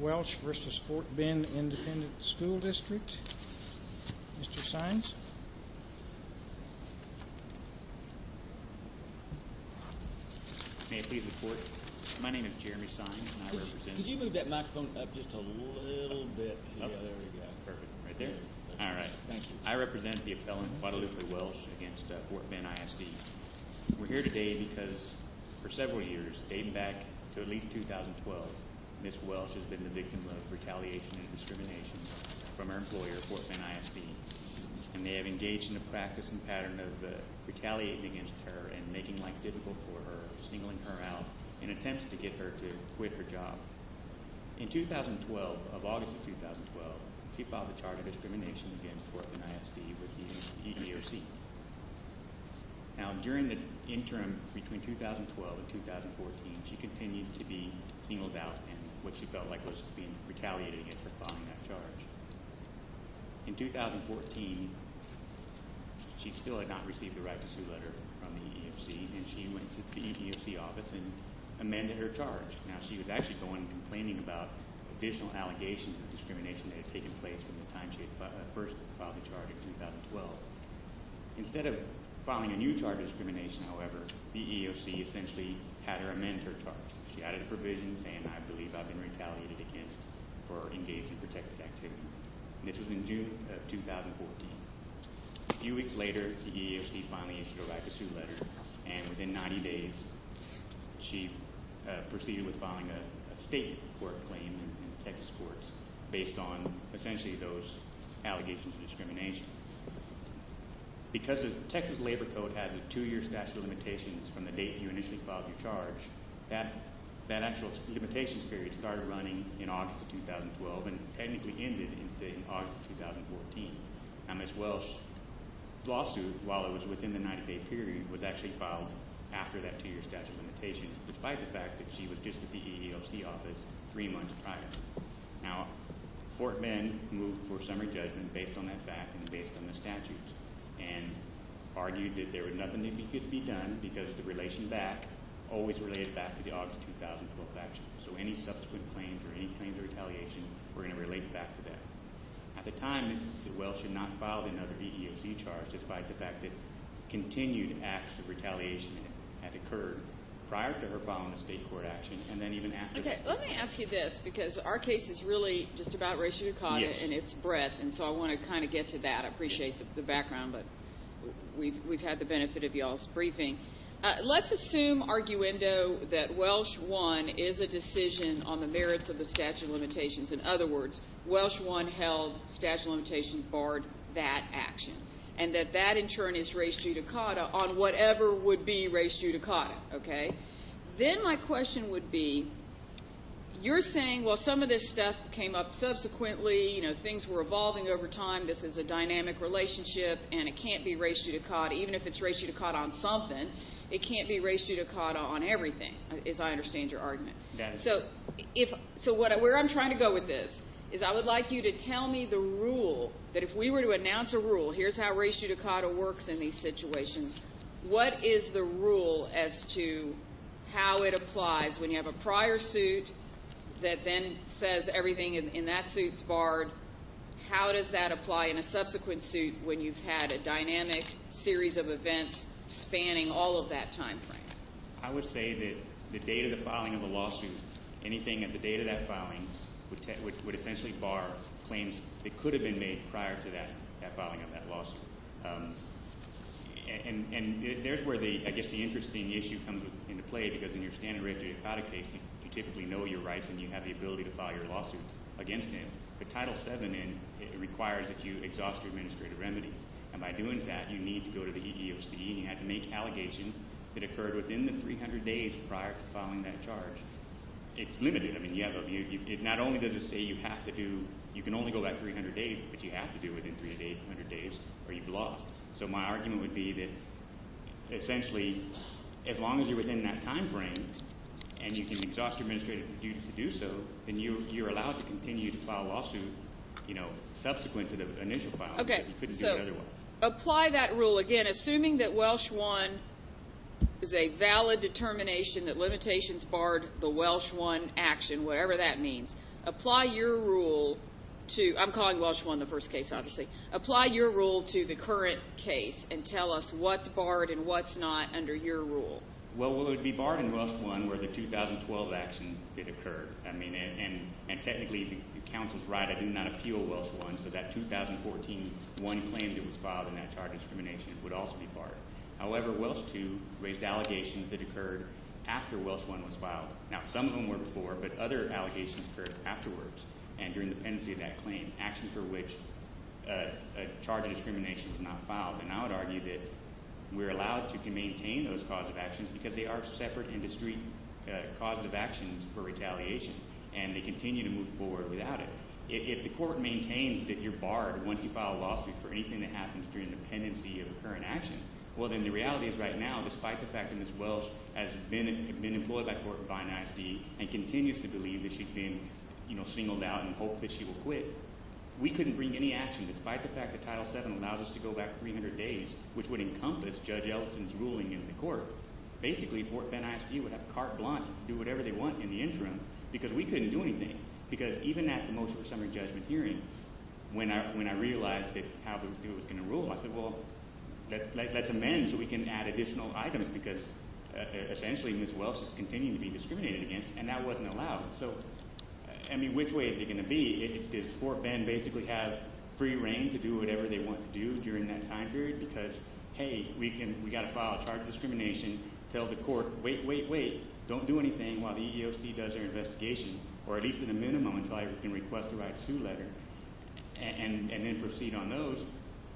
Welsh v. Fort Bend Independent School District Mr. Sines May I please report? My name is Jeremy Sines and I represent Could you move that microphone up just a little bit? There we go Perfect. Right there? Alright. I represent the appellant Guadalupe Welsh against Fort Bend ISD We're here today because for several years dating back to at least 2012 Ms. Welsh has been the victim of retaliation and discrimination from her employer, Fort Bend ISD and they have engaged in a practice and pattern of retaliating against her and making life difficult for her singling her out in attempts to get her to quit her job In 2012, of August of 2012 she filed a charge of discrimination against Fort Bend ISD with the EEOC Now during the interim between 2012 and 2014 she continued to be singled out in what she felt like was being retaliated against for filing that charge In 2014 she still had not received the right to sue letter from the EEOC and she went to the EEOC office and amended her charge Now she was actually the one complaining about additional allegations of discrimination that had taken place from the time she had first filed the charge in 2012 Instead of filing a new charge of discrimination however the EEOC essentially had her amend her charge. She added a provision saying I believe I've been retaliated against for engaging in protected activity This was in June of 2014 A few weeks later the EEOC finally issued a right to sue letter and within 90 days she proceeded with filing a state court claim in the Texas courts based on essentially those allegations of discrimination Because the Texas Labor Code has a two year statute of limitations from the date you initially filed your charge that actual limitations period started running in August of 2012 and technically ended in August of 2014 Now Ms. Welsh's lawsuit while it was within the 90 day period was actually filed after that two year statute of limitations despite the fact that she was just at the EEOC office three months prior. Now Fort Bend moved for summary judgment based on that fact and based on the statutes and argued that there was nothing that could be done because the relation back, always related back to the August 2012 action so any subsequent claims or any claims of retaliation were going to relate back to that At the time Ms. Welsh had not filed another EEOC charge despite the fact that continued acts of retaliation had occurred prior to her filing a state court action and then even after that. Okay let me ask you this because our case is really just about racial dichotomy and it's breadth and so I want to kind of get to that. I appreciate the background but we've had the benefit of y'all's briefing. Let's assume arguendo that Welsh 1 is a decision on the merits of the statute of limitations in other words Welsh 1 held statute of limitations barred that action and that that in turn is race judicata on whatever would be race judicata. Okay then my question would be you're saying well some of this stuff came up subsequently you know things were evolving over time this is a dynamic relationship and it can't be race judicata even if it's race judicata on something it can't be race judicata on everything as I understand your argument. So where I'm trying to go with this is I would like you to tell me the rule that if we were to announce a rule here's how race judicata works in these situations. What is the rule as to how it applies when you have a prior suit that then says everything in that suit is barred how does that apply in a subsequent suit when you've had a dynamic series of events spanning all of that time frame? I would say that the date of the filing of a lawsuit anything at the date of that filing would essentially bar claims that could have been made prior to that filing of that lawsuit. And there's where the interesting issue comes into play because in your standard race judicata case you typically know your rights and you have the ability to file your lawsuits against him but title 7 requires that you exhaust your administrative remedies and by doing that you need to go to the EEOC and you have to make allegations that occurred within the 300 days prior to filing that charge. It's limited. Not only does it say you have to do, you can only go that 300 days but you have to do it within 300 days or you've lost. So my argument would be that essentially as long as you're within that time frame and you can exhaust your administrative duties to do so then you're allowed to continue to file lawsuits subsequent to the initial filing. Apply that rule again. Assuming that Welsh 1 is a valid determination that limitations barred the Welsh 1 action, whatever that means, apply your rule to, I'm calling Welsh 1 the first case obviously, apply your rule to the current case and tell us what's barred and what's not under your rule. Well what would be barred in Welsh 1 were the 2012 actions that occurred. I mean technically the counsel's right I did not appeal Welsh 1 so that 2014 one claim that was filed in that charge of discrimination would also be barred. However, Welsh 2 raised allegations that occurred after Welsh 1 was filed. Now some of them were before but other allegations occurred afterwards and during the pendency of that claim. Actions for which a charge of discrimination was not filed. And I would argue that we're allowed to maintain those cause of actions because they are separate industry cause of actions for retaliation and they continue to move forward without it. If the court maintains that you're barred once you file a lawsuit for anything that happens during the pendency of a current action, well then the reality is right now despite the fact that Ms. Welsh has been employed by Court of Finance and continues to believe that she's been singled out and hoped that she will quit, we couldn't bring any action despite the fact that Ms. Welsh has been in court for 300 days which would encompass Judge Ellison's ruling in the court. Basically, Fort Bend ISD would have carte blanche to do whatever they want in the interim because we couldn't do anything. Because even at the motion for summary judgment hearing when I realized how it was going to rule, I said well let's amend so we can add additional items because essentially Ms. Welsh is continuing to be discriminated against and that wasn't allowed. Which way is it going to be? Does Fort Bend basically have free reign to do whatever they want to do during that time period because hey, we've got to file a charge of discrimination tell the court, wait, wait, wait don't do anything while the EEOC does their investigation or at least in the minimum until I can request a right to letter and then proceed on those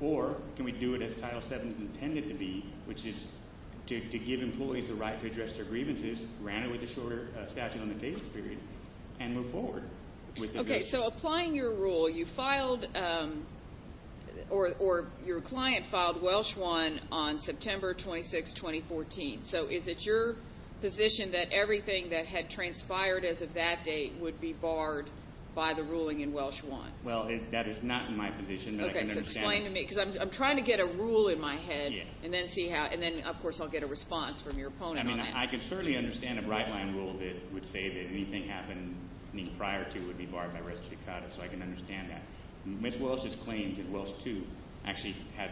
or can we do it as Title VII is intended to be which is to give employees the right to address their grievances, grant it with a shorter statute of limitations period and move forward. Okay, so applying your rule you filed or your client filed Welsh 1 on September 26, 2014. So is it your position that everything that had transpired as of that date would be barred by the ruling in Welsh 1? Well, that is not my position. Okay, so explain to me because I'm trying to get a rule in my head and then of course I'll get a response from your opponent on that. I mean, I can certainly understand a bright line rule that would say that anything happening prior to it would be barred by res judicata, so I can understand that. Ms. Welsh's claims in Welsh 2 actually had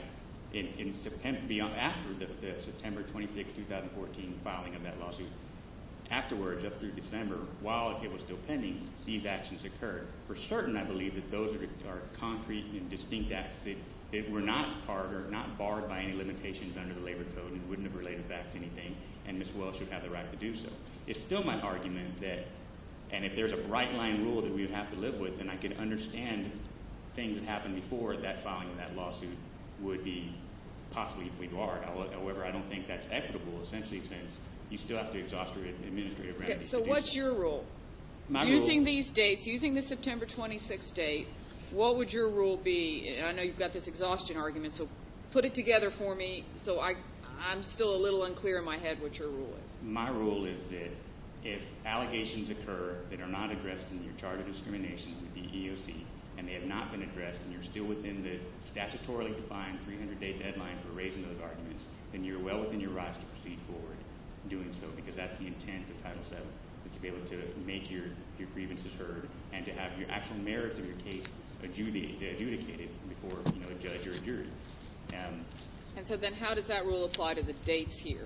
in September, after the September 26, 2014 filing of that lawsuit, afterwards up through December, while it was still pending, these actions occurred. For certain, I believe that those are concrete and distinct acts that were not part or not barred by any limitations under the labor code and wouldn't have related back to anything and Ms. Welsh should have the right to do so. It's still my argument that and if there's a bright line rule that we would have to live with, then I can understand things that happened before that filing of that lawsuit would be possibly barred. However, I don't think that's equitable essentially since you still have to exhaust your administrative So what's your rule? Using these dates, using the September 26 date, what would your rule be? I know you've got this exhaustion argument so put it together for me so I'm still a little unclear in my head what your rule is. My rule is that if allegations occur that are not addressed in your chart of discrimination with the EEOC and they have not been addressed and you're still within the statutorily defined 300 day deadline for raising those arguments, then you're well within your rights to proceed forward doing so because that's the intent of Title VII to be able to make your grievances heard and to have your actual merits of your case adjudicated before a judge or a jury. And so then how does that rule apply to the dates here?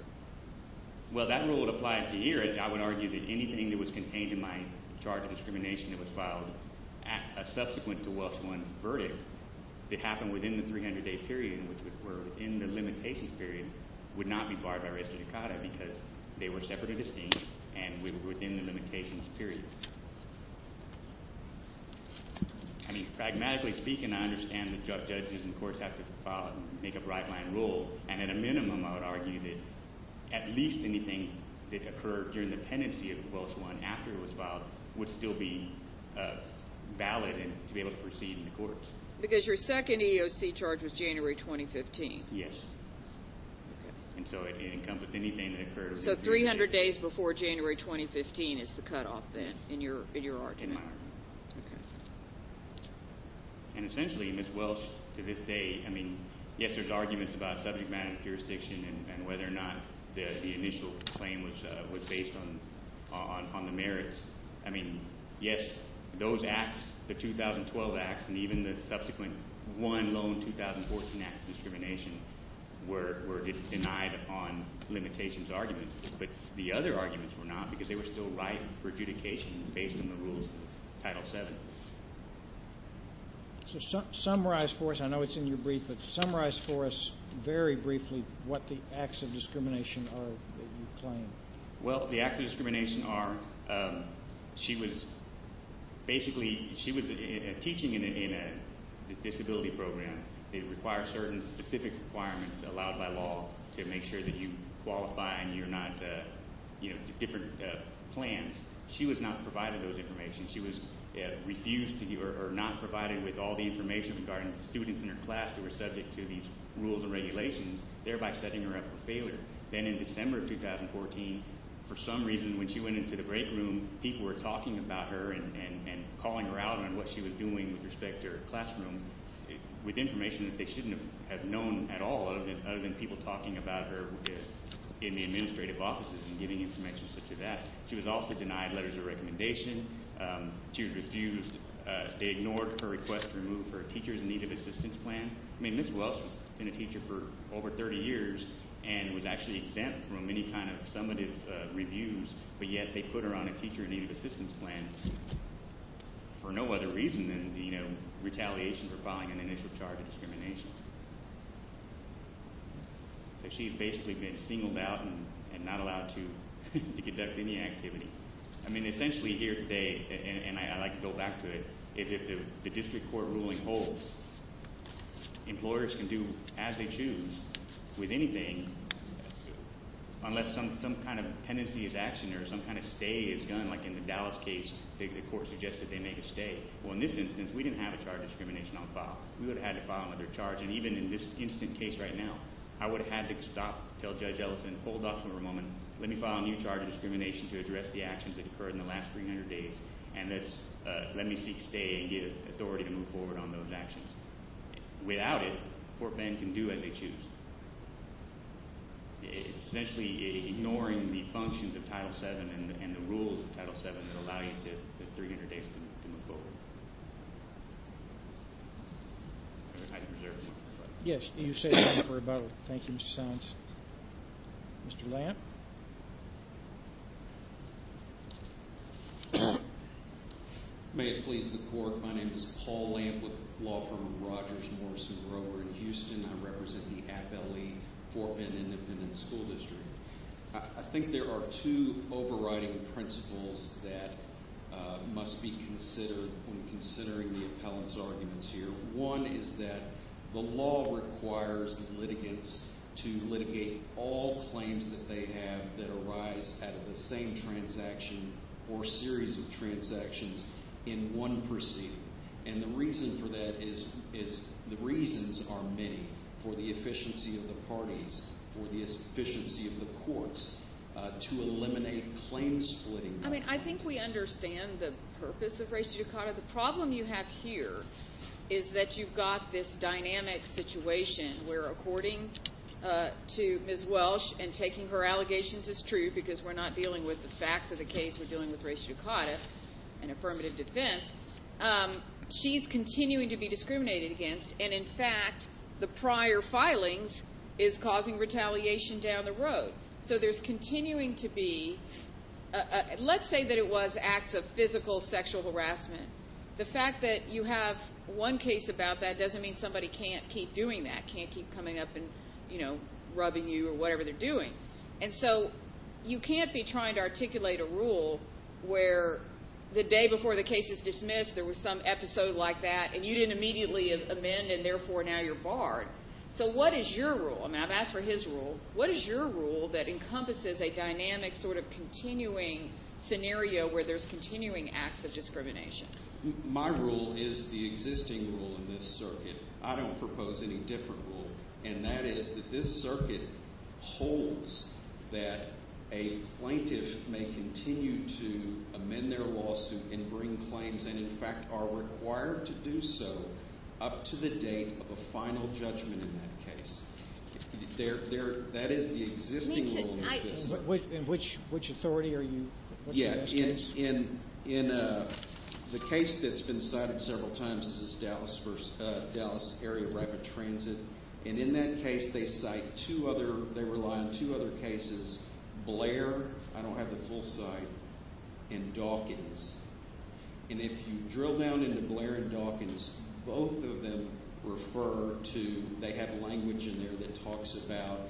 Well that rule would apply to here and I would argue that anything that was contained in my charge of discrimination that was filed subsequent to Welsh I's verdict that happened within the 300 day period, which were within the limitations period, would not be barred by restitucata because they were separately distinct and were within the limitations period. I mean, pragmatically speaking, I understand that judges and courts have to make a bright line rule and at a minimum I would argue that at least anything that occurred during the pendency of Welsh I after it was filed would still be valid and to be able to proceed in the courts. Because your second EEOC charge was January 2015. Yes. And so it encompassed anything that occurred. So 300 days before January 2015 is the cutoff then in your argument. In my argument. And essentially Ms. Welsh, to this day, I mean yes, there's arguments about subject matter jurisdiction and whether or not the initial claim was based on the merits. I mean, yes, those acts, the 2012 acts and even the subsequent one loan 2014 act of discrimination were denied on limitations arguments. But the other arguments were not because they were still right for adjudication based on the rules of Title VII. So summarize for us, I know it's in your brief but summarize for us very briefly what the acts of discrimination are that you claim. Well, the acts of discrimination are she was basically, she was teaching in a disability program. They require certain specific requirements allowed by law to make sure that you qualify and you're not, you know, different plans. She was not provided those information. She was refused to be or not provided with all the information regarding the students in her class who were subject to these rules and regulations thereby setting her up for failure. Then in December of 2014 for some reason when she went into the break room people were talking about her and calling her out on what she was doing with respect to her classroom with information that they shouldn't have known at all other than people talking about her in the administrative offices and giving information such as that. She was also denied letters of recommendation. She was refused they ignored her request to remove her teacher in need of assistance plan. Ms. Welch has been a teacher for over 30 years and was actually exempt from any kind of summative reviews but yet they put her on a teacher in need of assistance plan for no other reason than retaliation for filing an initial charge of discrimination. So she's basically been singled out and not allowed to conduct any activity. I mean essentially here today and I like to go back to it is if the district court ruling holds employers can do as they choose with anything unless some kind of tendency is actioned or some kind of stay is done like in the Dallas case the court suggested they make a stay. Well in this instance we didn't have a charge of discrimination on file. We would have had to file another charge and even in this instant case right now I would have had to stop, tell Judge Ellison, hold off for a moment let me file a new charge of discrimination to address the actions that occurred in the last 300 days and let me seek stay and get authority to move forward on those actions. Without it Fort Bend can do as they choose. Essentially ignoring the functions of Title VII and the rules of Title VII that allow you to 300 days to move forward. Yes. Thank you Mr. Saenz. Mr. Lamp. May it please the court. My name is Paul Lamp with the law firm Rogers, Morrison, Grover in Houston. I represent the Appellee Fort Bend Independent School District. I think there are two overriding principles that must be considered when considering the appellant's arguments here. One is that the law requires litigants to litigate all claims that they have that arise out of the same transaction or series of transactions in one proceeding. The reason for that is the reasons are many for the efficiency of the parties, for the efficiency of the courts to eliminate claim splitting. I think we understand the purpose of res judicata. The problem you have here is that you've got this dynamic situation where according to Ms. Welsh and taking her allegations as true because we're not dealing with the facts of the case. We're dealing with res judicata and affirmative defense. She's continuing to be discriminated against and in fact the prior filings is causing retaliation down the road. So there's continuing to be let's say that it was acts of physical sexual harassment. The fact that you have one case about that doesn't mean somebody can't keep doing that, can't keep coming up and rubbing you or whatever they're doing. And so you can't be trying to articulate a rule where the day before the case is dismissed there was some episode like that and you didn't immediately amend and therefore now you're barred. So what is your rule? I mean I've asked for his rule. What is your rule that encompasses a dynamic sort of continuing scenario where there's continuing acts of discrimination? My rule is the existing rule in this circuit. I don't propose any different rule and that is that this circuit holds that a plaintiff may continue to amend their lawsuit and bring claims and in fact are required to do so up to the date of a final judgment in that case. That is the In which authority are you? Yeah, in the case that's been cited several times is this Dallas area rapid transit and in that case they cite two other, they rely on two other cases, Blair I don't have the full site and Dawkins. And if you drill down into Blair and Dawkins both of them refer to, they have language in there that talks about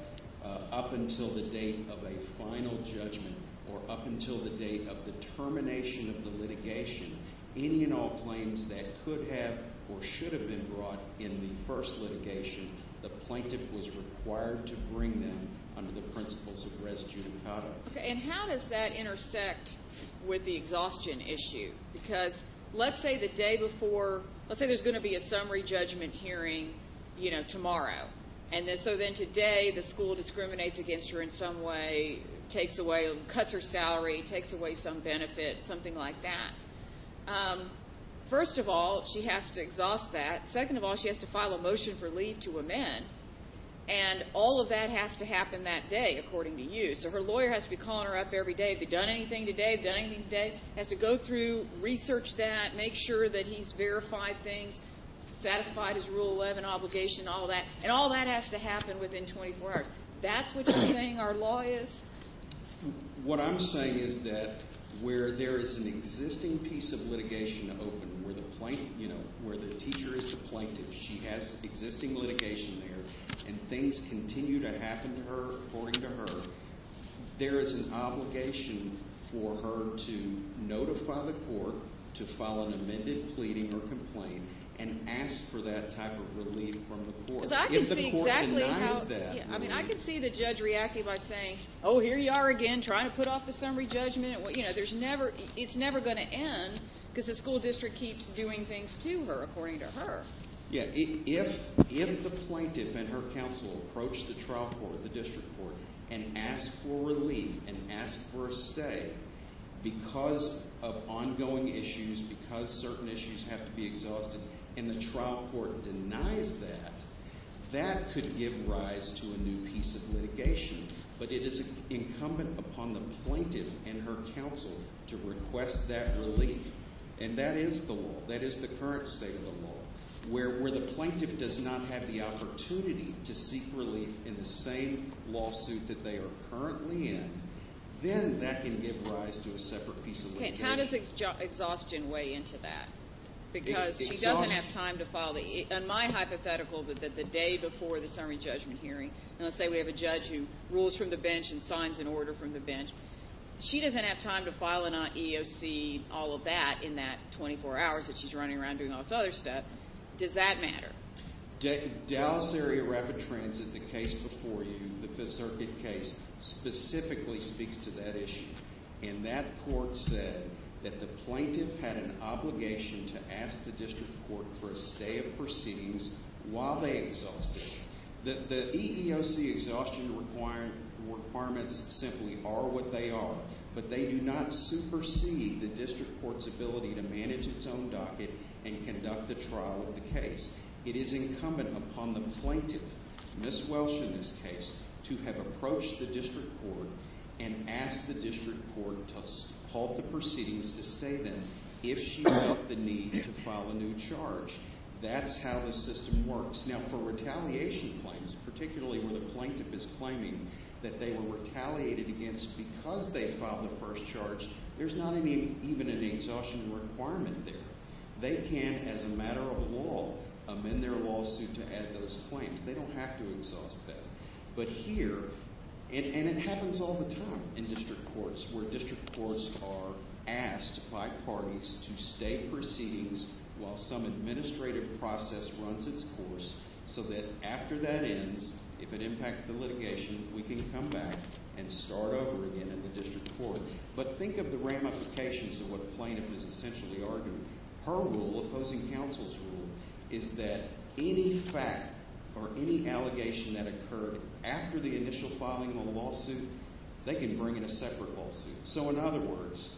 up until the date of a final judgment or up until the date of the termination of the litigation, any and all claims that could have or should have been brought in the first litigation the plaintiff was required to bring them under the principles of res judicata. And how does that intersect with the exhaustion issue? Because let's say the day before let's say there's going to be a summary judgment hearing you know tomorrow and so then today the school discriminates against her in some way takes away, cuts her salary takes away some benefit, something like that. First of all, she has to exhaust that. Second of all, she has to file a motion for leave to amend and all of that has to happen that day according to you. So her lawyer has to be calling her up every day, have you done anything today? Has to go through, research that, make sure that he's verified things, satisfied his and all that has to happen within 24 hours. That's what you're saying our law is? What I'm saying is that where there is an existing piece of litigation open, where the teacher is the plaintiff, she has existing litigation there and things continue to happen to her according to her, there is an obligation for her to notify the court to file an amended pleading or complaint and ask for that type of relief from the court. If the court denies that. I can see the judge reacting by saying oh here you are again trying to put off the summary judgment, it's never going to end because the school district keeps doing things to her according to her. If the plaintiff and her counsel approach the trial court, the district court and ask for relief and ask for a stay because of ongoing issues because certain issues have to be addressed, if the court denies that that could give rise to a new piece of litigation, but it is incumbent upon the plaintiff and her counsel to request that relief and that is the law, that is the current state of the law where the plaintiff does not have the opportunity to seek relief in the same lawsuit that they are currently in then that can give rise to a separate piece of litigation. How does exhaustion weigh into that? Because she doesn't have time to file on my hypothetical that the day before the summary judgment hearing let's say we have a judge who rules from the bench and signs an order from the bench she doesn't have time to file an EEOC all of that in that 24 hours that she's running around doing all this other stuff does that matter? Dallas Area Rapid Transit the case before you, the Fifth Circuit case, specifically speaks to that issue and that court said that the plaintiff had an obligation to ask the district court for a stay of proceedings while they exhausted it the EEOC exhaustion requirements simply are what they are but they do not supersede the district court's ability to manage its own docket and conduct the trial of the case. It is incumbent upon the plaintiff, Ms. Welsh in this case, to have approached the district court and asked the district court to halt the proceedings to stay then if she felt the need to file a new charge. That's how the system works. Now for retaliation claims, particularly where the plaintiff is claiming that they were retaliated against because they filed the first charge, there's not even an exhaustion requirement there they can, as a matter of law amend their lawsuit to add those claims. They don't have to exhaust that but here and it happens all the time in district courts are asked by parties to stay proceedings while some administrative process runs its course so that after that ends if it impacts the litigation, we can come back and start over again in the district court. But think of the ramifications of what plaintiff is essentially arguing. Her rule, opposing counsel's rule, is that any fact or any allegation that occurred after the initial filing of a lawsuit they can bring in a separate lawsuit so in other words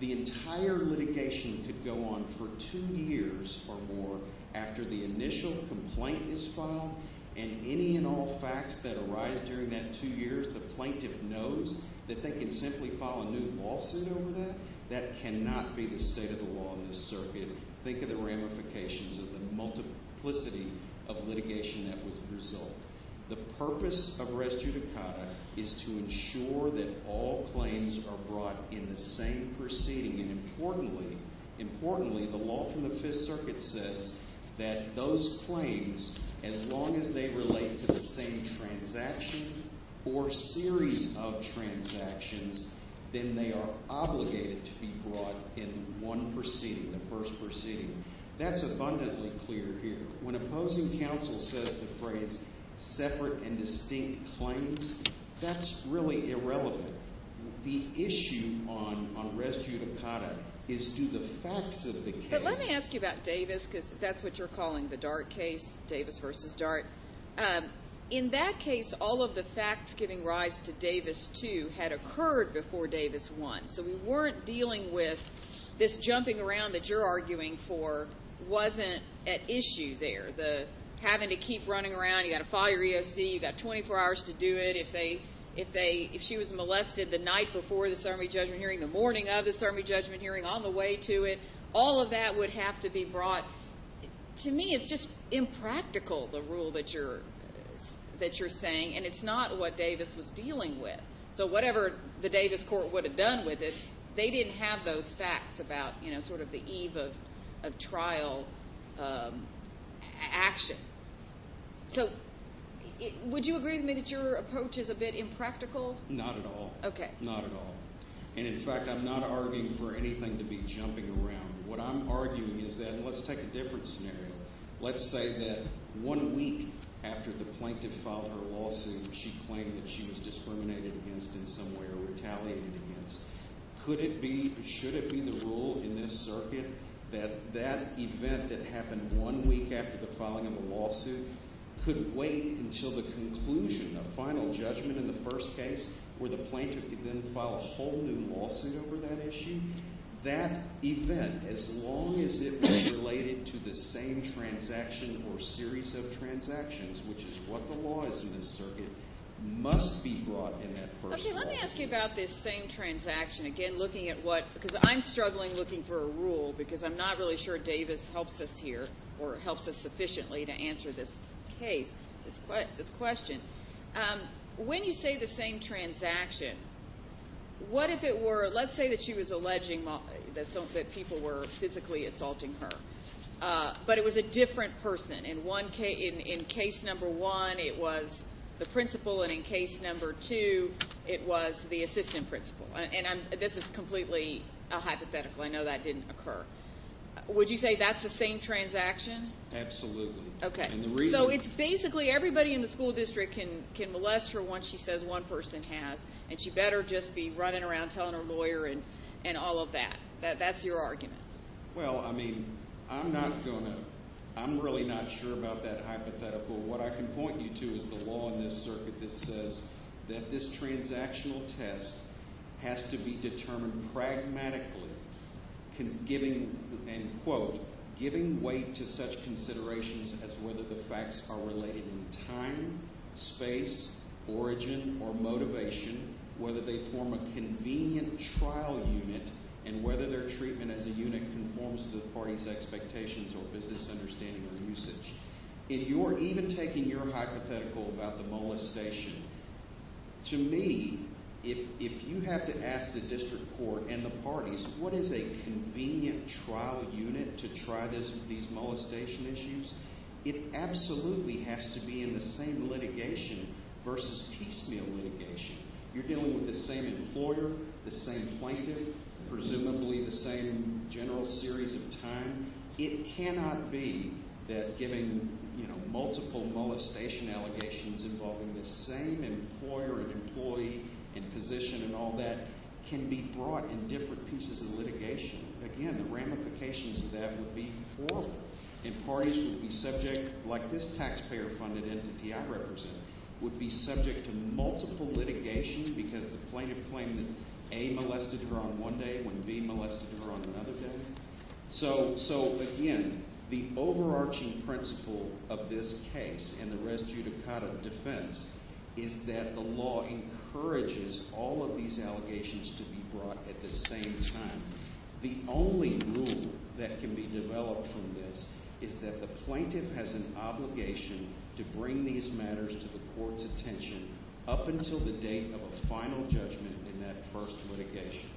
the entire litigation could go on for two years or more after the initial complaint is filed and any and all facts that arise during that two years, the plaintiff knows that they can simply file a new lawsuit over that. That cannot be the state of the law in this circuit think of the ramifications of the multiplicity of litigation that would result. The is to ensure that all claims are brought in the same proceeding and importantly the law from the 5th circuit says that those claims, as long as they relate to the same transaction or series of transactions, then they are obligated to be brought in one proceeding, the first proceeding. That's abundantly clear here. When opposing counsel says the phrase separate and distinct claims that's really irrelevant the issue on res judicata is to the facts of the case. But let me ask you about Davis because that's what you're calling the DART case, Davis versus DART in that case all of the facts giving rise to Davis 2 had occurred before Davis 1 so we weren't dealing with this jumping around that you're arguing for wasn't at issue there. The having to keep running around, you've got to file your EOC you've got 24 hours to do it if she was molested the night before the certimony judgment hearing, the morning of the certimony judgment hearing, on the way to it all of that would have to be brought to me it's just impractical the rule that you're saying and it's not what Davis was dealing with so whatever the Davis court would have done with it, they didn't have those facts about sort of the eve of trial action so would you agree with me that your approach is a bit impractical? Not at all not at all and in fact I'm not arguing for anything to be jumping around what I'm arguing is that let's take a different scenario let's say that one week after the plaintiff filed her lawsuit she claimed that she was discriminated against in some way or retaliated against could it be should it be the rule in this circuit that that event that happened one week after the filing of the lawsuit could wait until the conclusion, the final judgment in the first case where the plaintiff could then file a whole new lawsuit over that issue? That event as long as it was related to the same transaction or series of transactions which is what the law is in this circuit must be brought in that first trial. Okay let me ask you about this same transaction again looking at what because I'm struggling looking for a rule because I'm not really sure Davis helps us here or helps us sufficiently to answer this case this question when you say the same transaction what if it were let's say that she was alleging that people were physically assaulting her but it was a different person in one case in case number one it was the principal and in case number two it was the assistant principal and this is completely a hypothetical I know that didn't occur would you say that's the same transaction? Absolutely. So it's basically everybody in the school district can molest her once she says one person has and she better just be running around telling her lawyer and all of that. That's your argument. Well I mean I'm not going to I'm really not sure about that hypothetical what I can point you to is the law in this circuit that says that this transactional test has to be determined pragmatically giving and quote giving weight to such considerations as whether the facts are related in time space origin or motivation whether they form a convenient trial unit and whether their treatment as a unit conforms to the parties expectations or business understanding or usage. In your even taking your hypothetical about the molestation to me if you have to ask the district court and the parties what is a convenient trial unit to try these molestation issues it absolutely has to be in the same litigation versus piecemeal litigation. You're dealing with the same employer, the same plaintiff, presumably the same general series of time it cannot be that giving multiple molestation allegations involving the same employer and employee and position and all that can be brought in different pieces of litigation. Again the ramifications of that would be horrible and parties would be subject like this taxpayer funded entity I represent would be subject to multiple litigations because the plaintiff claimed that A molested her on one day when B molested her on another day. So again the overarching principle of this case and the res judicata defense is that the law encourages all of these allegations to be brought at the same time. The only rule that can be developed from this is that the plaintiff has an obligation to bring these matters to the court's attention up until the date of a final judgment in that first litigation.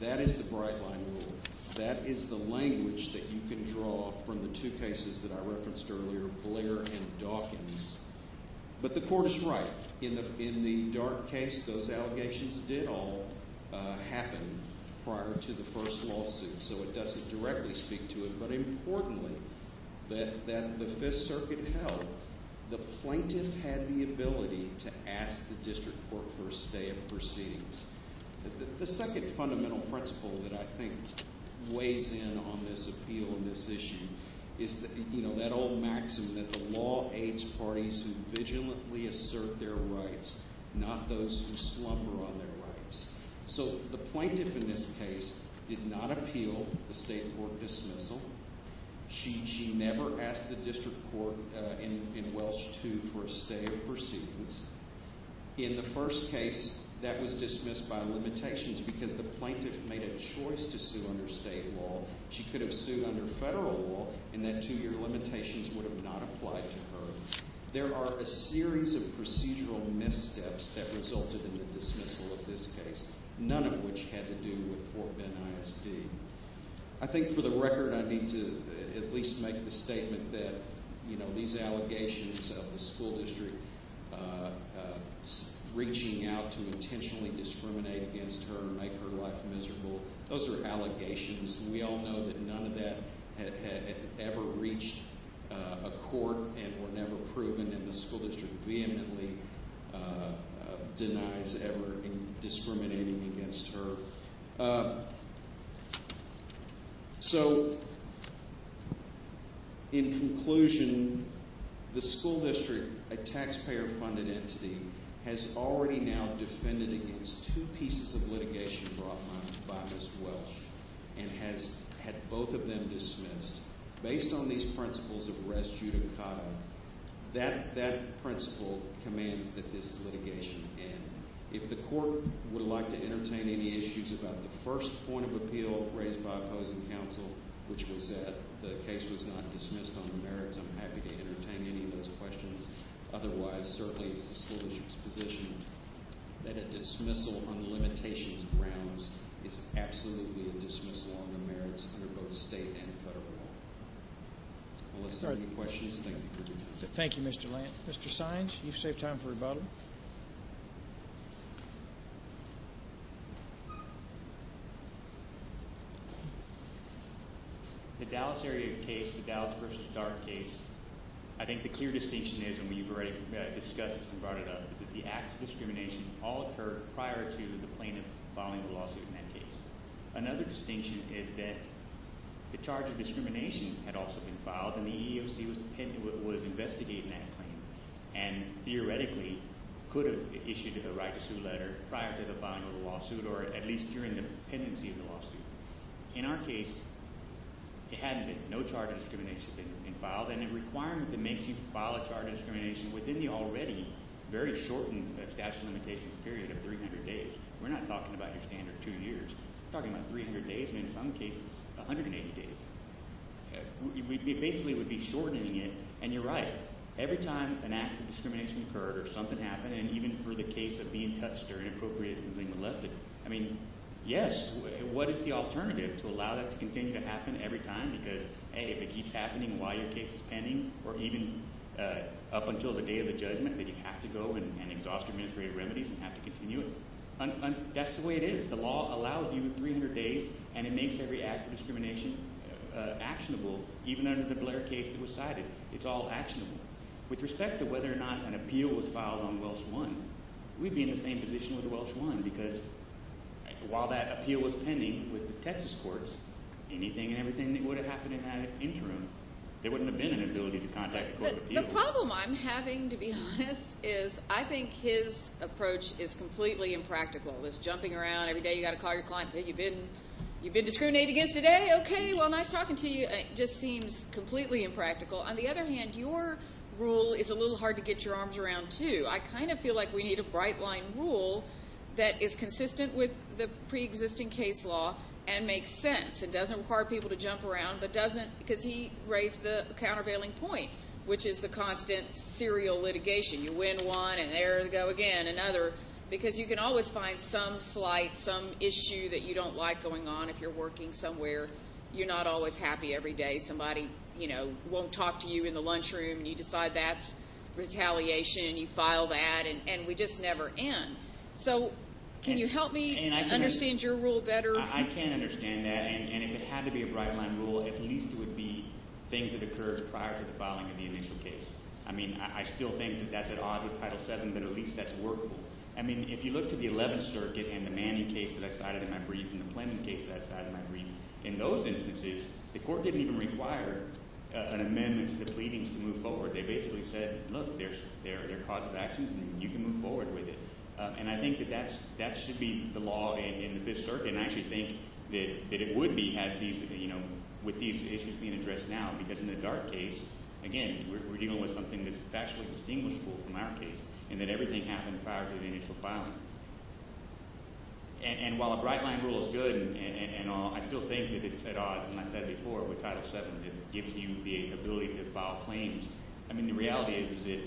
That is the bright line rule. That is the language that you can draw from the two cases that I referenced earlier Blair and Dawkins. But the court is right in the dark case those allegations did all happen prior to the first lawsuit so it doesn't directly speak to it but importantly that the 5th circuit held the plaintiff had the ability to ask the district court for a stay of proceedings. The second fundamental principle that I think weighs in on this appeal and this issue is that that old maxim that the law aids parties who vigilantly assert their rights not those who slumber on their rights. So the plaintiff in this case did not appeal the state court dismissal. She never asked the district court in Welsh 2 for a stay of proceedings. In the first case that was dismissed by limitations because the plaintiff made a choice to sue under state law she could have sued under federal law and that two year limitations would have not applied to her. There are a series of procedural missteps that resulted in the dismissal of this case. None of which had to do with Fort Bend ISD. I think for the record I need to at least make the statement that these allegations of the school district reaching out to intentionally discriminate against her and make her life miserable. Those are allegations and we all know that none of that had ever reached a court and were never proven and the school district vehemently denies ever discriminating against her. So in conclusion the school district a taxpayer funded entity has already now defended against two pieces of litigation brought on by Ms. Welsh and has had both of them dismissed based on these principles of res judicata that principle commands that this litigation end. If the court would like to entertain any issues about the first point of appeal raised by opposing counsel which was that the case was not dismissed on the merits I'm happy to entertain any of those questions otherwise certainly it's the school district's position that a dismissal on the limitations of rounds is absolutely a dismissal on the merits under both state and federal law. Unless there are any questions, thank you for your time. Thank you Mr. Lantz. Mr. Sines you've saved time for rebuttal. The Dallas area case, the Dallas v. Dart case I think the clear distinction is and we've already discussed this and brought it up is that the acts of discrimination all occurred prior to the plaintiff filing the lawsuit in that case. Another distinction is that the charge of discrimination had also been filed and the EEOC was investigating that claim and theoretically could have issued a right to sue letter prior to the filing of the lawsuit or at least during the pendency of the lawsuit. In our case it hadn't been. No charge of discrimination had been filed and the requirement that makes you file a charge of discrimination within the already very shortened statute of limitations period of 300 days. We're not talking about your standard two years. We're talking about 300 days and in some cases 180 days. We basically would be shortening it and you're right. Every time an act of discrimination occurred or something happened and even for the case of being touched or inappropriate or being molested, I mean, yes what is the alternative to allow that to continue to happen every time because if it keeps happening while your case is pending or even up until the day of the judgment that you have to go and exhaust administrative remedies and have to continue it. That's the way it is. The law allows you 300 days and it makes every act of discrimination actionable even under the Blair case that was cited. It's all actionable. With respect to whether or not an appeal was filed on Welsh 1, we'd be in the same position with Welsh 1 because while that appeal was anything and everything that would have happened in that interim, there wouldn't have been an ability to contact the court of appeals. The problem I'm having to be honest is I think his approach is completely impractical. This jumping around every day you've got to call your client. Hey, you've been discriminated against today? Okay, well nice talking to you. It just seems completely impractical. On the other hand, your rule is a little hard to get your arms around too. I kind of feel like we need a bright line rule that is consistent with the pre-existing case law and makes sense. It doesn't require people to jump around but doesn't because he raised the countervailing point which is the constant serial litigation. You win one and there go again another because you can always find some slight, some issue that you don't like going on if you're working somewhere. You're not always happy every day. Somebody won't talk to you in the lunchroom and you decide that's retaliation and you file that and we just never end. So can you help me understand your rule better? I can understand that and if it had to be a bright line rule, at least it would be things that occurred prior to the filing of the initial case. I mean, I still think that that's at odds with Title VII but at least that's workable. I mean, if you look to the Eleventh Circuit and the Manning case that I cited in my brief and the Plano case that I cited in my brief, in those instances, the court didn't even require an amendment to the pleadings to move forward. They basically said, look, there's cause of actions and you can move forward with it. And I think that that should be the law in the Fifth Circuit and I actually think that it would be with these issues being addressed now because in the Dart case, again, we're dealing with something that's factually distinguishable from our case and that everything happened prior to the initial filing. And while a bright line rule is good and all, I still think that it's at odds and I said before with Title VII that it gives you the ability to file claims. I mean, the reality is that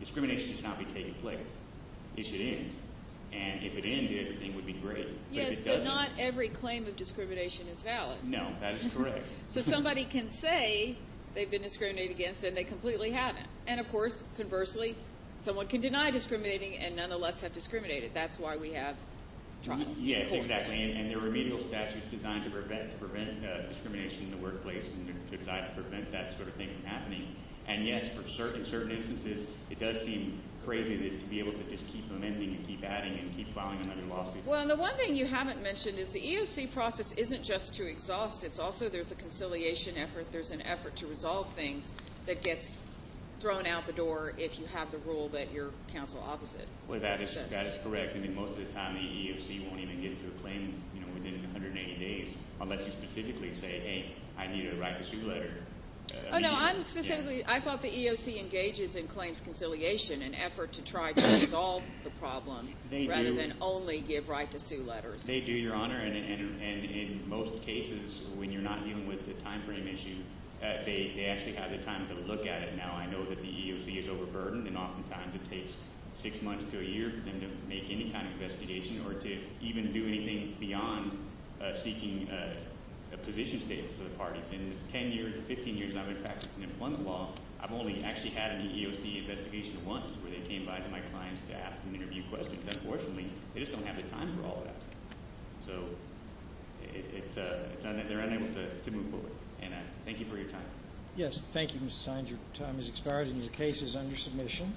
discrimination should not be taking place. It should end. And if it ended, everything would be great. Yes, but not every claim of discrimination is valid. No, that is correct. So somebody can say they've been discriminated against and they completely haven't. And of course, conversely, someone can deny discriminating and nonetheless have discriminated. That's why we have trials in courts. Yes, exactly. And there are remedial statutes designed to prevent discrimination in the workplace and designed to prevent that sort of thing from happening. And yet for certain instances, it does seem crazy to be able to just keep amending and keep adding and keep filing another lawsuit. Well, and the one thing you haven't mentioned is the EEOC process isn't just to exhaust. It's also there's a conciliation effort. There's an effort to resolve things that gets thrown out the door if you have the rule that you're counsel opposite. Well, that is correct. I mean, most of the time the EEOC won't even get to a claim within 180 days unless you specifically say, hey, I need to write a sue letter. Oh, no, I'm specifically, I thought the EEOC engages in claims conciliation, an effort to try to resolve the problem rather than only give right to sue letters. They do, Your Honor, and in most cases when you're not dealing with the time frame issue, they actually have the time to look at it. Now, I know that the EEOC is overburdened and oftentimes it takes six months to a year for them to make any kind of investigation or to even do anything beyond seeking a position statement for the parties. In the 10 years, 15 years I've been practicing employment law, I've only actually had an EEOC investigation once where they came by to my clients to ask and interview questions. Unfortunately, they just don't have the time for all of that. So, they're unable to move forward. And I thank you for your time. Yes, thank you, Mr. Sines. Your time has expired and your case is under submission.